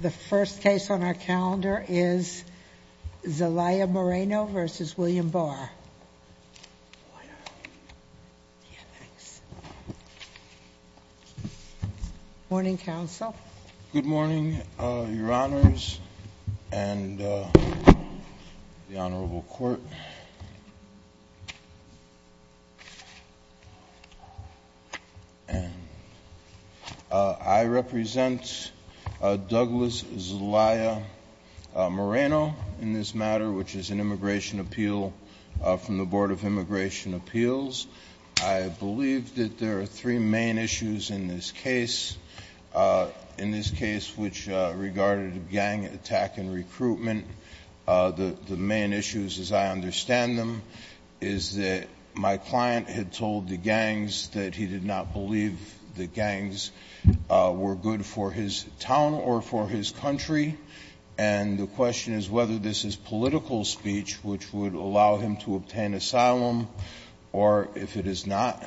The first case on our calendar is Zelaya-Moreno v. William Barr. Morning, Counsel. Good morning, Your Honors and the Honorable Court. I represent Douglas Zelaya-Moreno in this matter, which is an Immigration Appeal from the Board of Immigration Appeals. I believe that there are three main issues in this case, in this case which regarded gang attack and recruitment. The main issues, as I understand them, is that my client had told the gangs that he did not believe the gangs were good for his town or for his country, and the question is whether this is political speech, which would allow him to obtain asylum, or if it is not.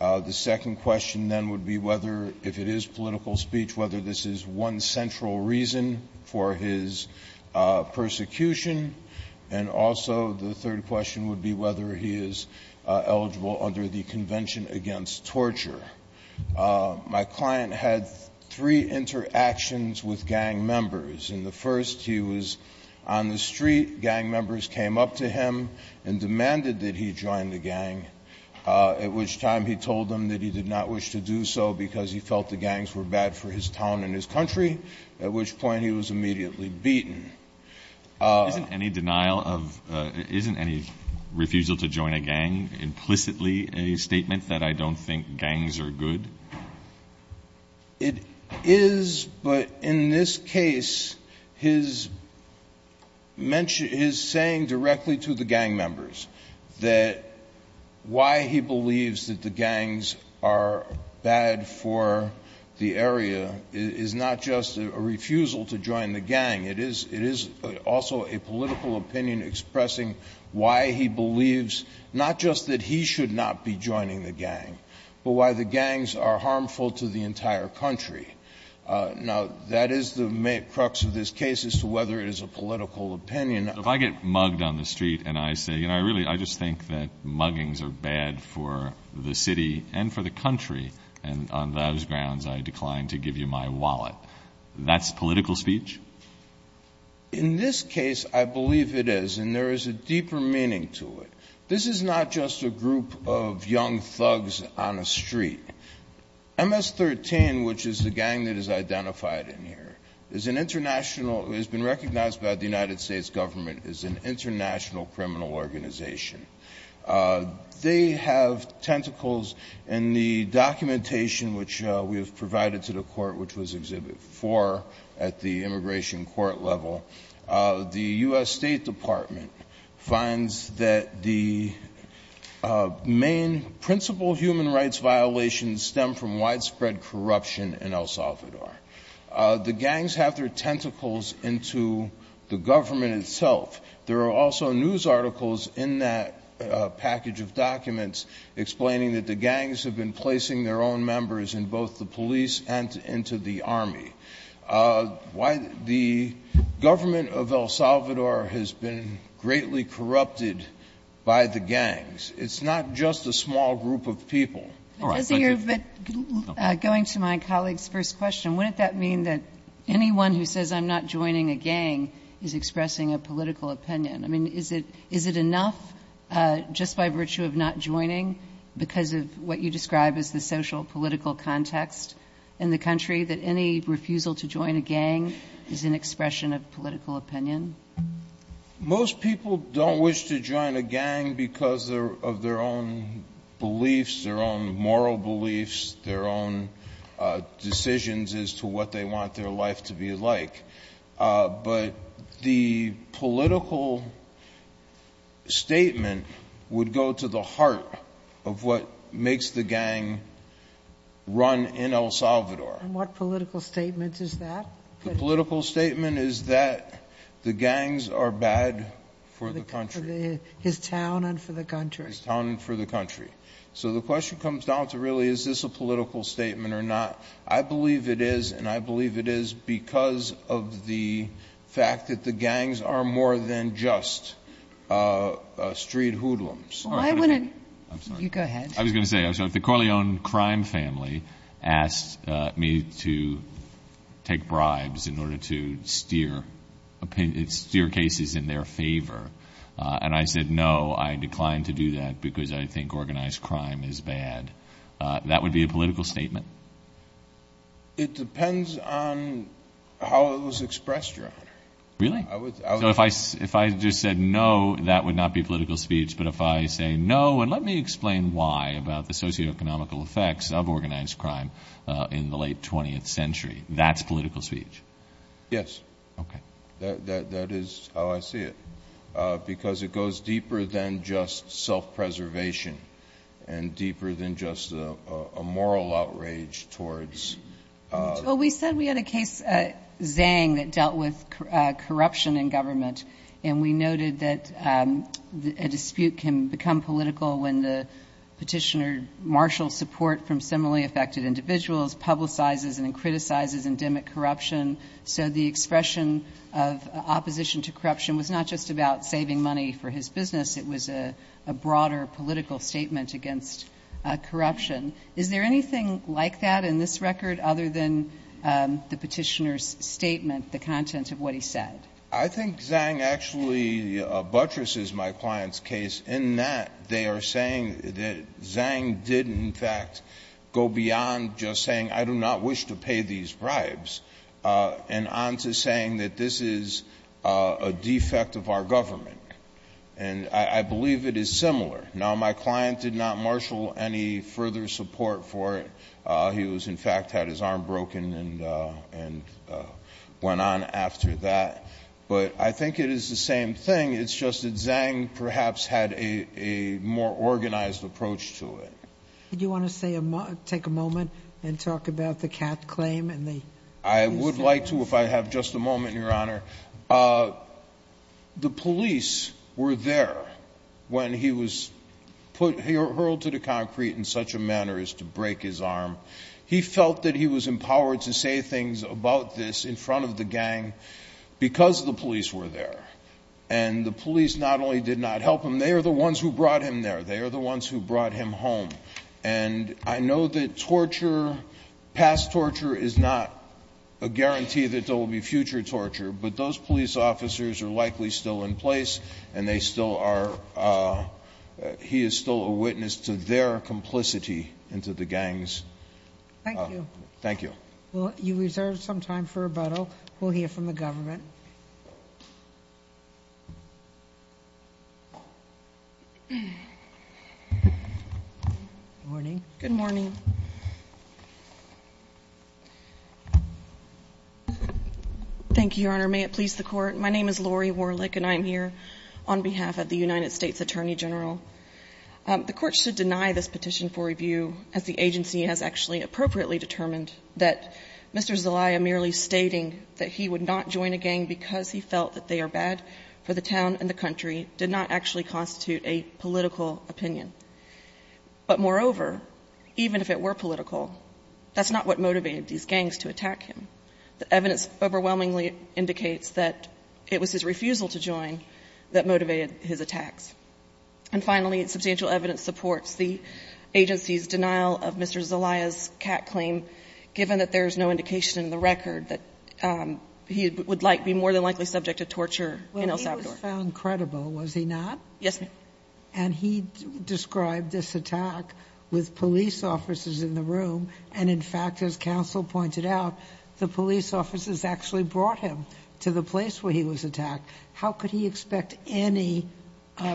The second question then would be whether, if it is political speech, whether this is one central reason for his persecution, and also the third question would be whether he is eligible under the Convention Against Torture. My client had three interactions with gang members, and the first, he was on the street. Gang members came up to him and demanded that he join the gang, at which time he told them that he did not wish to do so because he felt the gangs were bad for his town and his country, at which point he was immediately beaten. Isn't any denial of – isn't any refusal to join a gang implicitly a statement that I don't think gangs are good? It is, but in this case, his mention – his saying directly to the gang members that why he believes that the gangs are bad for the area is not just a refusal to join the gang. It is also a political opinion expressing why he believes not just that he should not be joining the gang, but why the gangs are harmful to the entire country. Now, that is the crux of this case as to whether it is a political opinion. If I get mugged on the street and I say, you know, I really – I just think that muggings are bad for the city and for the country, and on those grounds, I decline to give you my wallet, that's political speech? In this case, I believe it is, and there is a deeper meaning to it. This is not just a group of young thugs on a street. MS-13, which is the gang that is identified in here, is an international – has been identified by the U.S. government as an international criminal organization. They have tentacles in the documentation which we have provided to the court, which was Exhibit 4 at the immigration court level. The U.S. State Department finds that the main principal human rights violations stem from widespread corruption in El Salvador. The gangs have their tentacles into the government itself. There are also news articles in that package of documents explaining that the gangs have been placing their own members in both the police and into the army. The government of El Salvador has been greatly corrupted by the gangs. All right. Thank you. But going to my colleague's first question, wouldn't that mean that anyone who says I'm not joining a gang is expressing a political opinion? I mean, is it – is it enough just by virtue of not joining because of what you describe as the social-political context in the country that any refusal to join a gang is an expression of political opinion? Most people don't wish to join a gang because of their own beliefs, their own moral beliefs, their own decisions as to what they want their life to be like. But the political statement would go to the heart of what makes the gang run in El Salvador. And what political statement is that? The political statement is that the gangs are bad for the country. His town and for the country. His town and for the country. So the question comes down to really is this a political statement or not. I believe it is, and I believe it is because of the fact that the gangs are more than just street hoodlums. Why wouldn't – I'm sorry. You go ahead. I was going to say, so if the Corleone crime family asked me to take bribes in order to steer cases in their favor, and I said no, I decline to do that because I think organized crime is bad, that would be a political statement? It depends on how it was expressed, Your Honor. Really? So if I just said no, that would not be political speech. But if I say no, and let me explain why about the socioeconomical effects of organized crime in the late 20th century, that's political speech? Yes. Okay. That is how I see it. Because it goes deeper than just self-preservation and deeper than just a moral outrage towards – Well, we said we had a case, Zhang, that dealt with corruption in government. And we noted that a dispute can become political when the petitioner marshals support from similarly affected individuals, publicizes and criticizes endemic corruption. So the expression of opposition to corruption was not just about saving money for his business. It was a broader political statement against corruption. Is there anything like that in this record other than the petitioner's statement, the contents of what he said? I think Zhang actually buttresses my client's case in that they are saying that Zhang did, in fact, go beyond just saying, I do not wish to pay these bribes, and on to saying that this is a defect of our government. And I believe it is similar. Now, my client did not marshal any further support for it. He was, in fact, had his arm broken and went on after that. But I think it is the same thing. It's just that Zhang perhaps had a more organized approach to it. Do you want to say a moment – take a moment and talk about the Kath claim and the – I would like to if I have just a moment, Your Honor. The police were there when he was put – he hurled to the concrete in such a manner as to break his arm. He felt that he was empowered to say things about this in front of the gang because the police were there. And the police not only did not help him. They are the ones who brought him there. They are the ones who brought him home. And I know that torture, past torture, is not a guarantee that there will be future torture. But those police officers are likely still in place, and they still are – he is still a witness to their complicity into the gang's – Thank you. Thank you. Well, you reserve some time for rebuttal. We'll hear from the government. Good morning. Good morning. Thank you, Your Honor. May it please the Court. My name is Lori Warlick, and I am here on behalf of the United States Attorney General. The Court should deny this petition for review as the agency has actually appropriately determined that Mr. Zelaya merely stating that he would not join a gang because he felt that they are bad for the town and the country did not actually constitute a political opinion. But moreover, even if it were political, that's not what motivated these gangs to attack him. The evidence overwhelmingly indicates that it was his refusal to join that motivated his attacks. And finally, substantial evidence supports the agency's denial of Mr. Zelaya's cat claim, given that there is no indication in the record that he would like to be more than likely subject to torture in El Salvador. Well, he was found credible, was he not? Yes, ma'am. And he described this attack with police officers in the room, and in fact, as counsel pointed out, the police officers actually brought him to the place where he was attacked. How could he expect any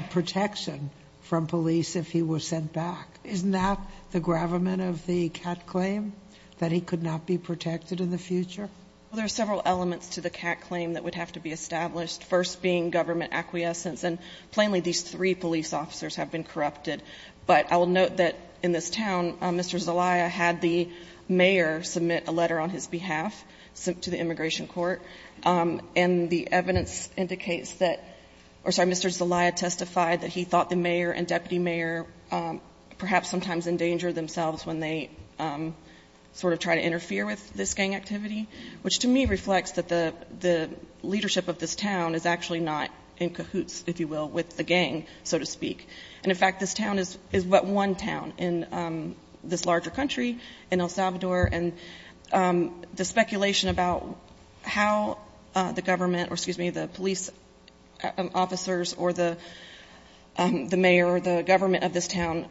protection from police if he was sent back? Isn't that the gravamen of the cat claim, that he could not be protected in the future? Well, there are several elements to the cat claim that would have to be established, first being government acquiescence. And plainly, these three police officers have been corrupted. But I will note that in this town, Mr. Zelaya had the mayor submit a letter on his behalf, sent to the immigration court, and the evidence indicates that Mr. Zelaya testified that he thought the mayor and deputy mayor perhaps sometimes endangered themselves when they sort of try to interfere with this gang activity, which to me reflects that the leadership of this town is actually not in cahoots, if you will, with the gang, so to speak. And in fact, this town is but one town in this larger country, in El Salvador. And the speculation about how the government, or excuse me, the police officers, or the mayor, or the government of this town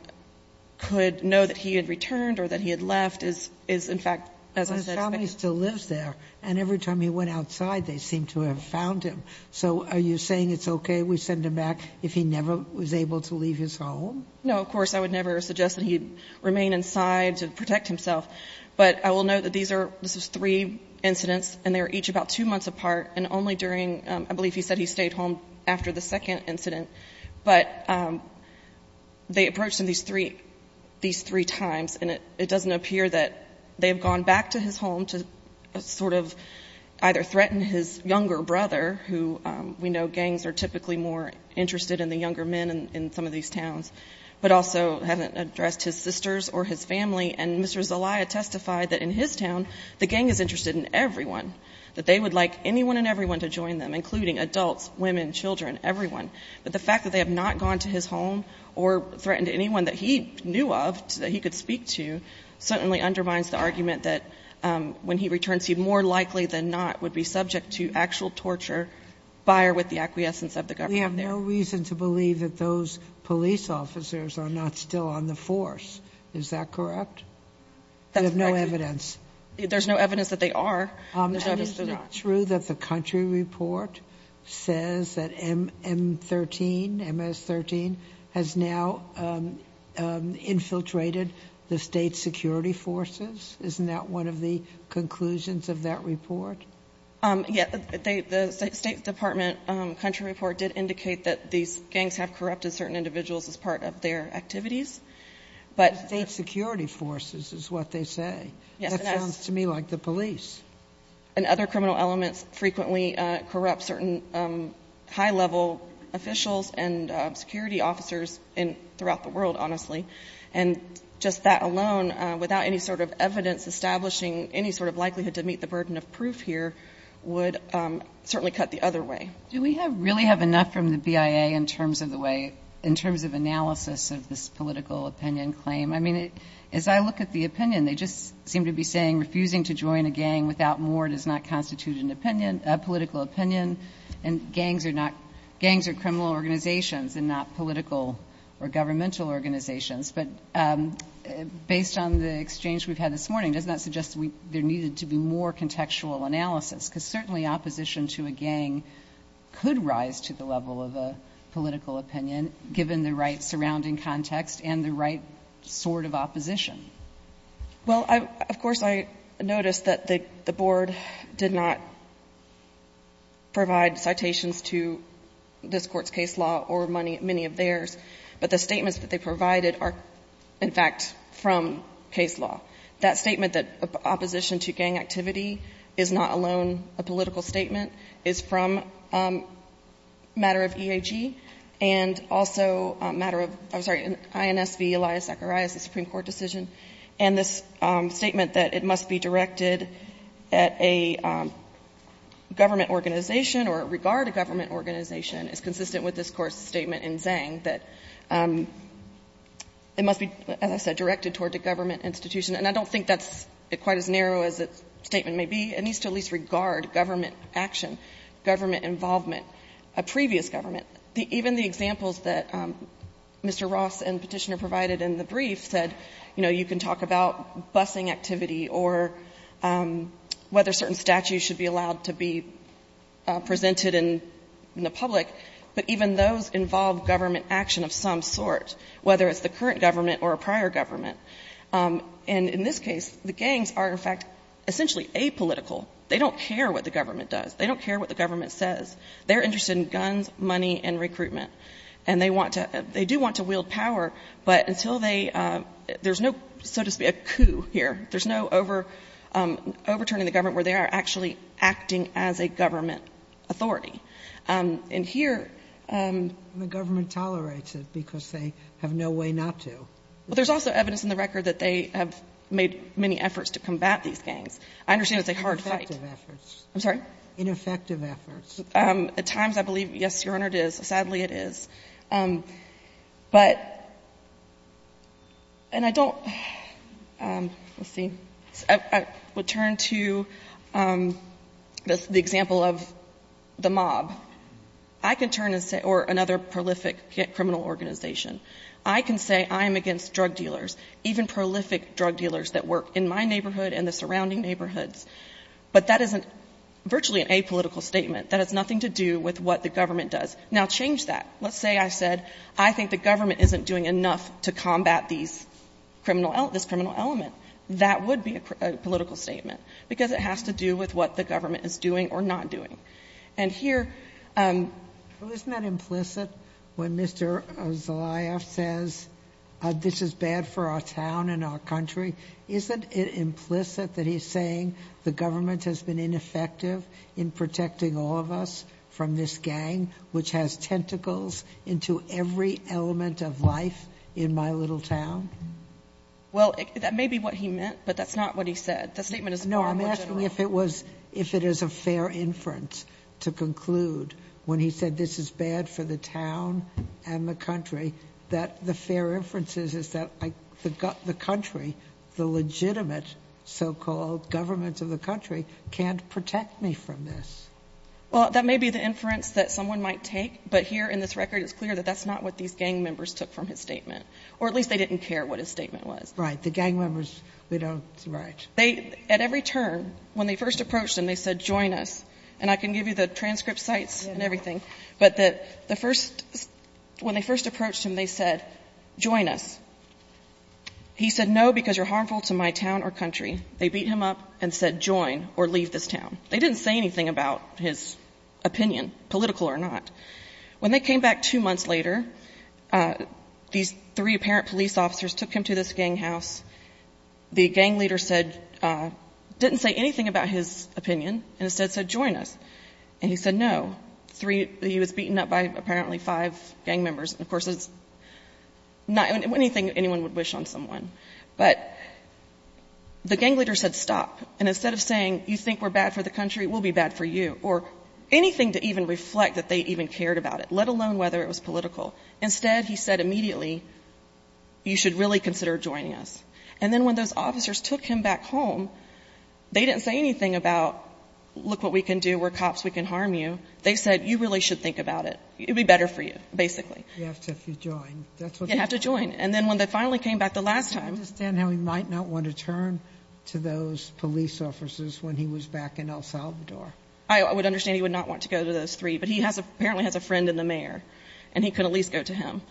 could know that he had returned, or that he had left, is in fact, as I said, speculative. His family still lives there. And every time he went outside, they seemed to have found him. So are you saying it's okay, we send him back if he never was able to leave his home? No, of course, I would never suggest that he remain inside to protect himself. But I will note that this was three incidents, and they were each about two months apart, and only during, I believe he said he stayed home after the second incident. But they approached him these three times, and it doesn't appear that they have gone back to his home to sort of either threaten his younger brother, who we know gangs are typically more interested in the younger men in some of these towns, but also haven't addressed his sisters or his family, and Mr. Zelaya testified that in his town, the gang is interested in everyone. That they would like anyone and everyone to join them, including adults, women, children, everyone. But the fact that they have not gone to his home, or threatened anyone that he knew of, that he could speak to, certainly undermines the argument that when he returns, he more likely than not would be subject to actual torture, by or with the acquiescence of the government there. We have no reason to believe that those police officers are not still on the force. Is that correct? We have no evidence. There's no evidence that they are. Is it true that the country report says that MS-13 has now infiltrated the state security forces? Isn't that one of the conclusions of that report? Yeah, the State Department country report did indicate that these gangs have corrupted certain individuals as part of their activities. But- State security forces is what they say. Yes. That sounds to me like the police. And other criminal elements frequently corrupt certain high level officials and security officers throughout the world, honestly. And just that alone, without any sort of evidence establishing any sort of likelihood to meet the burden of proof here, would certainly cut the other way. Do we really have enough from the BIA in terms of the way, in terms of analysis of this political opinion claim? I mean, as I look at the opinion, they just seem to be saying, refusing to join a gang without more does not constitute an opinion, a political opinion. And gangs are criminal organizations and not political or governmental organizations. But based on the exchange we've had this morning, does that suggest there needed to be more contextual analysis? Because certainly opposition to a gang could rise to the level of a political opinion, given the right surrounding context and the right sort of opposition. Well, of course, I noticed that the board did not provide citations to this court's case law or many of theirs. But the statements that they provided are, in fact, from case law. That statement that opposition to gang activity is not alone a political statement is from a matter of EAG. And also a matter of INSV Elias Zacharias, the Supreme Court decision. And this statement that it must be directed at a government organization or regard a government organization is consistent with this Court's statement in Zhang that it must be, as I said, directed toward a government institution. And I don't think that's quite as narrow as the statement may be. It needs to at least regard government action, government involvement, a previous government. Even the examples that Mr. Ross and Petitioner provided in the brief said, you know, you can talk about busing activity or whether certain statutes should be allowed to be presented in the public, but even those involve government action of some sort, whether it's the current government or a prior government. And in this case, the gangs are, in fact, essentially apolitical. They don't care what the government does. They don't care what the government says. They're interested in guns, money, and recruitment. And they want to – they do want to wield power, but until they – there's no, so to speak, a coup here. There's no overturning the government where they are actually acting as a government authority. And here the government tolerates it because they have no way not to. Well, there's also evidence in the record that they have made many efforts to combat these gangs. I understand it's a hard fight. I'm sorry? Ineffective efforts. At times, I believe, yes, Your Honor, it is. Sadly, it is. But – and I don't – let's see. I would turn to the example of the mob. I can turn and say – or another prolific criminal organization. I can say I am against drug dealers, even prolific drug dealers that work in my neighborhood and the surrounding neighborhoods, but that isn't virtually an apolitical statement. That has nothing to do with what the government does. Now, change that. Let's say I said I think the government isn't doing enough to combat these criminal – this criminal element. That would be a political statement because it has to do with what the government is doing or not doing. And here – But isn't that implicit when Mr. Zelayaev says this is bad for our town and our country? Isn't it implicit that he's saying the government has been ineffective in protecting all of us from this gang which has tentacles into every element of life in my little town? Well, that may be what he meant, but that's not what he said. The statement is far more general. No, I'm asking if it was – if it is a fair inference to conclude when he said this is bad for the town and the country that the fair inference is that the country, the legitimate so-called government of the country, can't protect me from this. Well, that may be the inference that someone might take, but here in this record it's clear that that's not what these gang members took from his statement. Or at least they didn't care what his statement was. Right. The gang members, they don't – right. They – at every turn, when they first approached him, they said, join us. And I can give you the transcript sites and everything, but the first – when they first approached him, they said, join us. He said, no, because you're harmful to my town or country. They beat him up and said, join or leave this town. They didn't say anything about his opinion, political or not. When they came back two months later, these three apparent police officers took him to this gang house. The gang leader said – didn't say anything about his opinion and instead said, join us. And he said, no. Three – he was beaten up by apparently five gang members. Of course, it's not anything anyone would wish on someone. But the gang leader said, stop. And instead of saying, you think we're bad for the country, we'll be bad for you. Or anything to even reflect that they even cared about it, let alone whether it was political. Instead, he said immediately, you should really consider joining us. And then when those officers took him back home, they didn't say anything about, look what we can do, we're cops, we can harm you. They said, you really should think about it. It would be better for you, basically. You have to if you join. You have to join. And then when they finally came back the last time – I understand how he might not want to turn to those police officers when he was back in El Salvador. I would understand he would not want to go to those three. But he apparently has a friend in the mayor and he could at least go to him.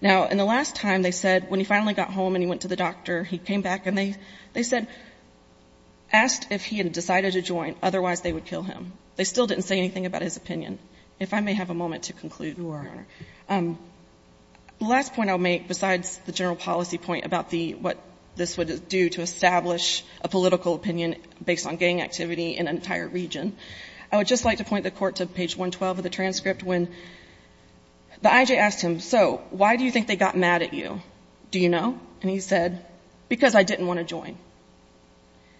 Now, in the last time, they said, when he finally got home and he went to the doctor, he came back and they said – asked if he had decided to join. Otherwise, they would kill him. They still didn't say anything about his opinion. If I may have a moment to conclude, Your Honor. Sure. The last point I'll make, besides the general policy point about the – what this would do to establish a political opinion based on gang activity in an entire region, I would just like to point the Court to page 112 of the transcript when the IJ asked him, so why do you think they got mad at you? Do you know? And he said, because I didn't want to join.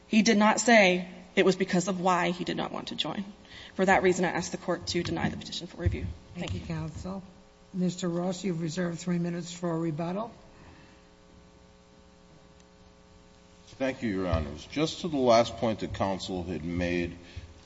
He did not say it was because of why he did not want to join. For that reason, I ask the Court to deny the petition for review. Thank you. Thank you, counsel. Mr. Ross, you have reserved three minutes for a rebuttal. Thank you, Your Honors. Just to the last point the counsel had made,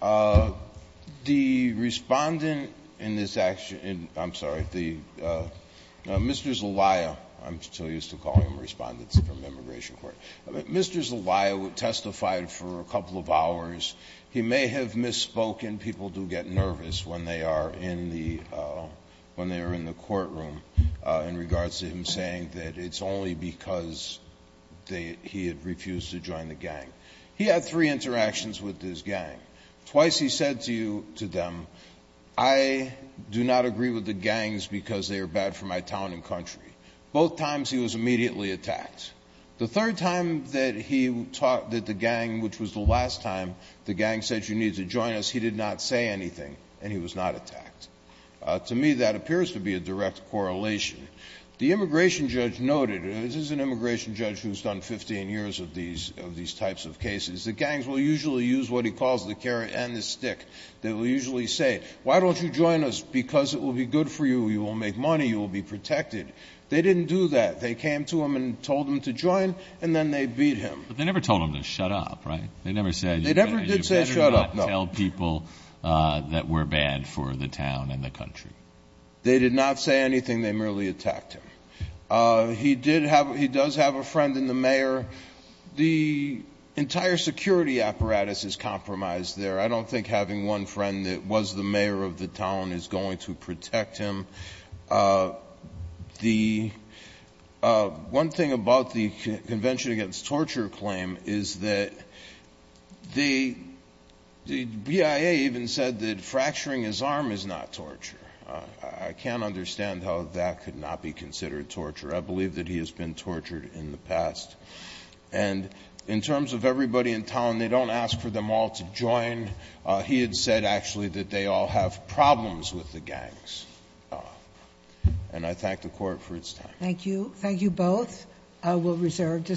the respondent in this – I'm sorry, the – Mr. Zelaya – I'm still used to calling him Respondent from the Immigration Court – Mr. Zelaya testified for a couple of hours. He may have misspoken. And people do get nervous when they are in the – when they are in the courtroom in regards to him saying that it's only because they – he had refused to join the gang. He had three interactions with his gang. Twice he said to them, I do not agree with the gangs because they are bad for my town and country. Both times he was immediately attacked. The third time that he – that the gang – which was the last time the gang said you need to join us, he did not say anything, and he was not attacked. To me, that appears to be a direct correlation. The immigration judge noted – this is an immigration judge who has done 15 years of these – of these types of cases. The gangs will usually use what he calls the carrot and the stick. They will usually say, why don't you join us because it will be good for you, you will make money, you will be protected. They didn't do that. They came to him and told him to join, and then they beat him. But they never told him to shut up, right? They never said – No, no. They did not tell people that we're bad for the town and the country. They did not say anything. They merely attacked him. He did have – he does have a friend in the mayor. The entire security apparatus is compromised there. I don't think having one friend that was the mayor of the town is going to protect him. One thing about the Convention Against Torture claim is that the BIA even said that fracturing his arm is not torture. I can't understand how that could not be considered torture. I believe that he has been tortured in the past. And in terms of everybody in town, they don't ask for them all to join. He had said, actually, that they all have problems with the gangs. And I thank the Court for its time. Thank you. Thank you both. I will reserve the seat.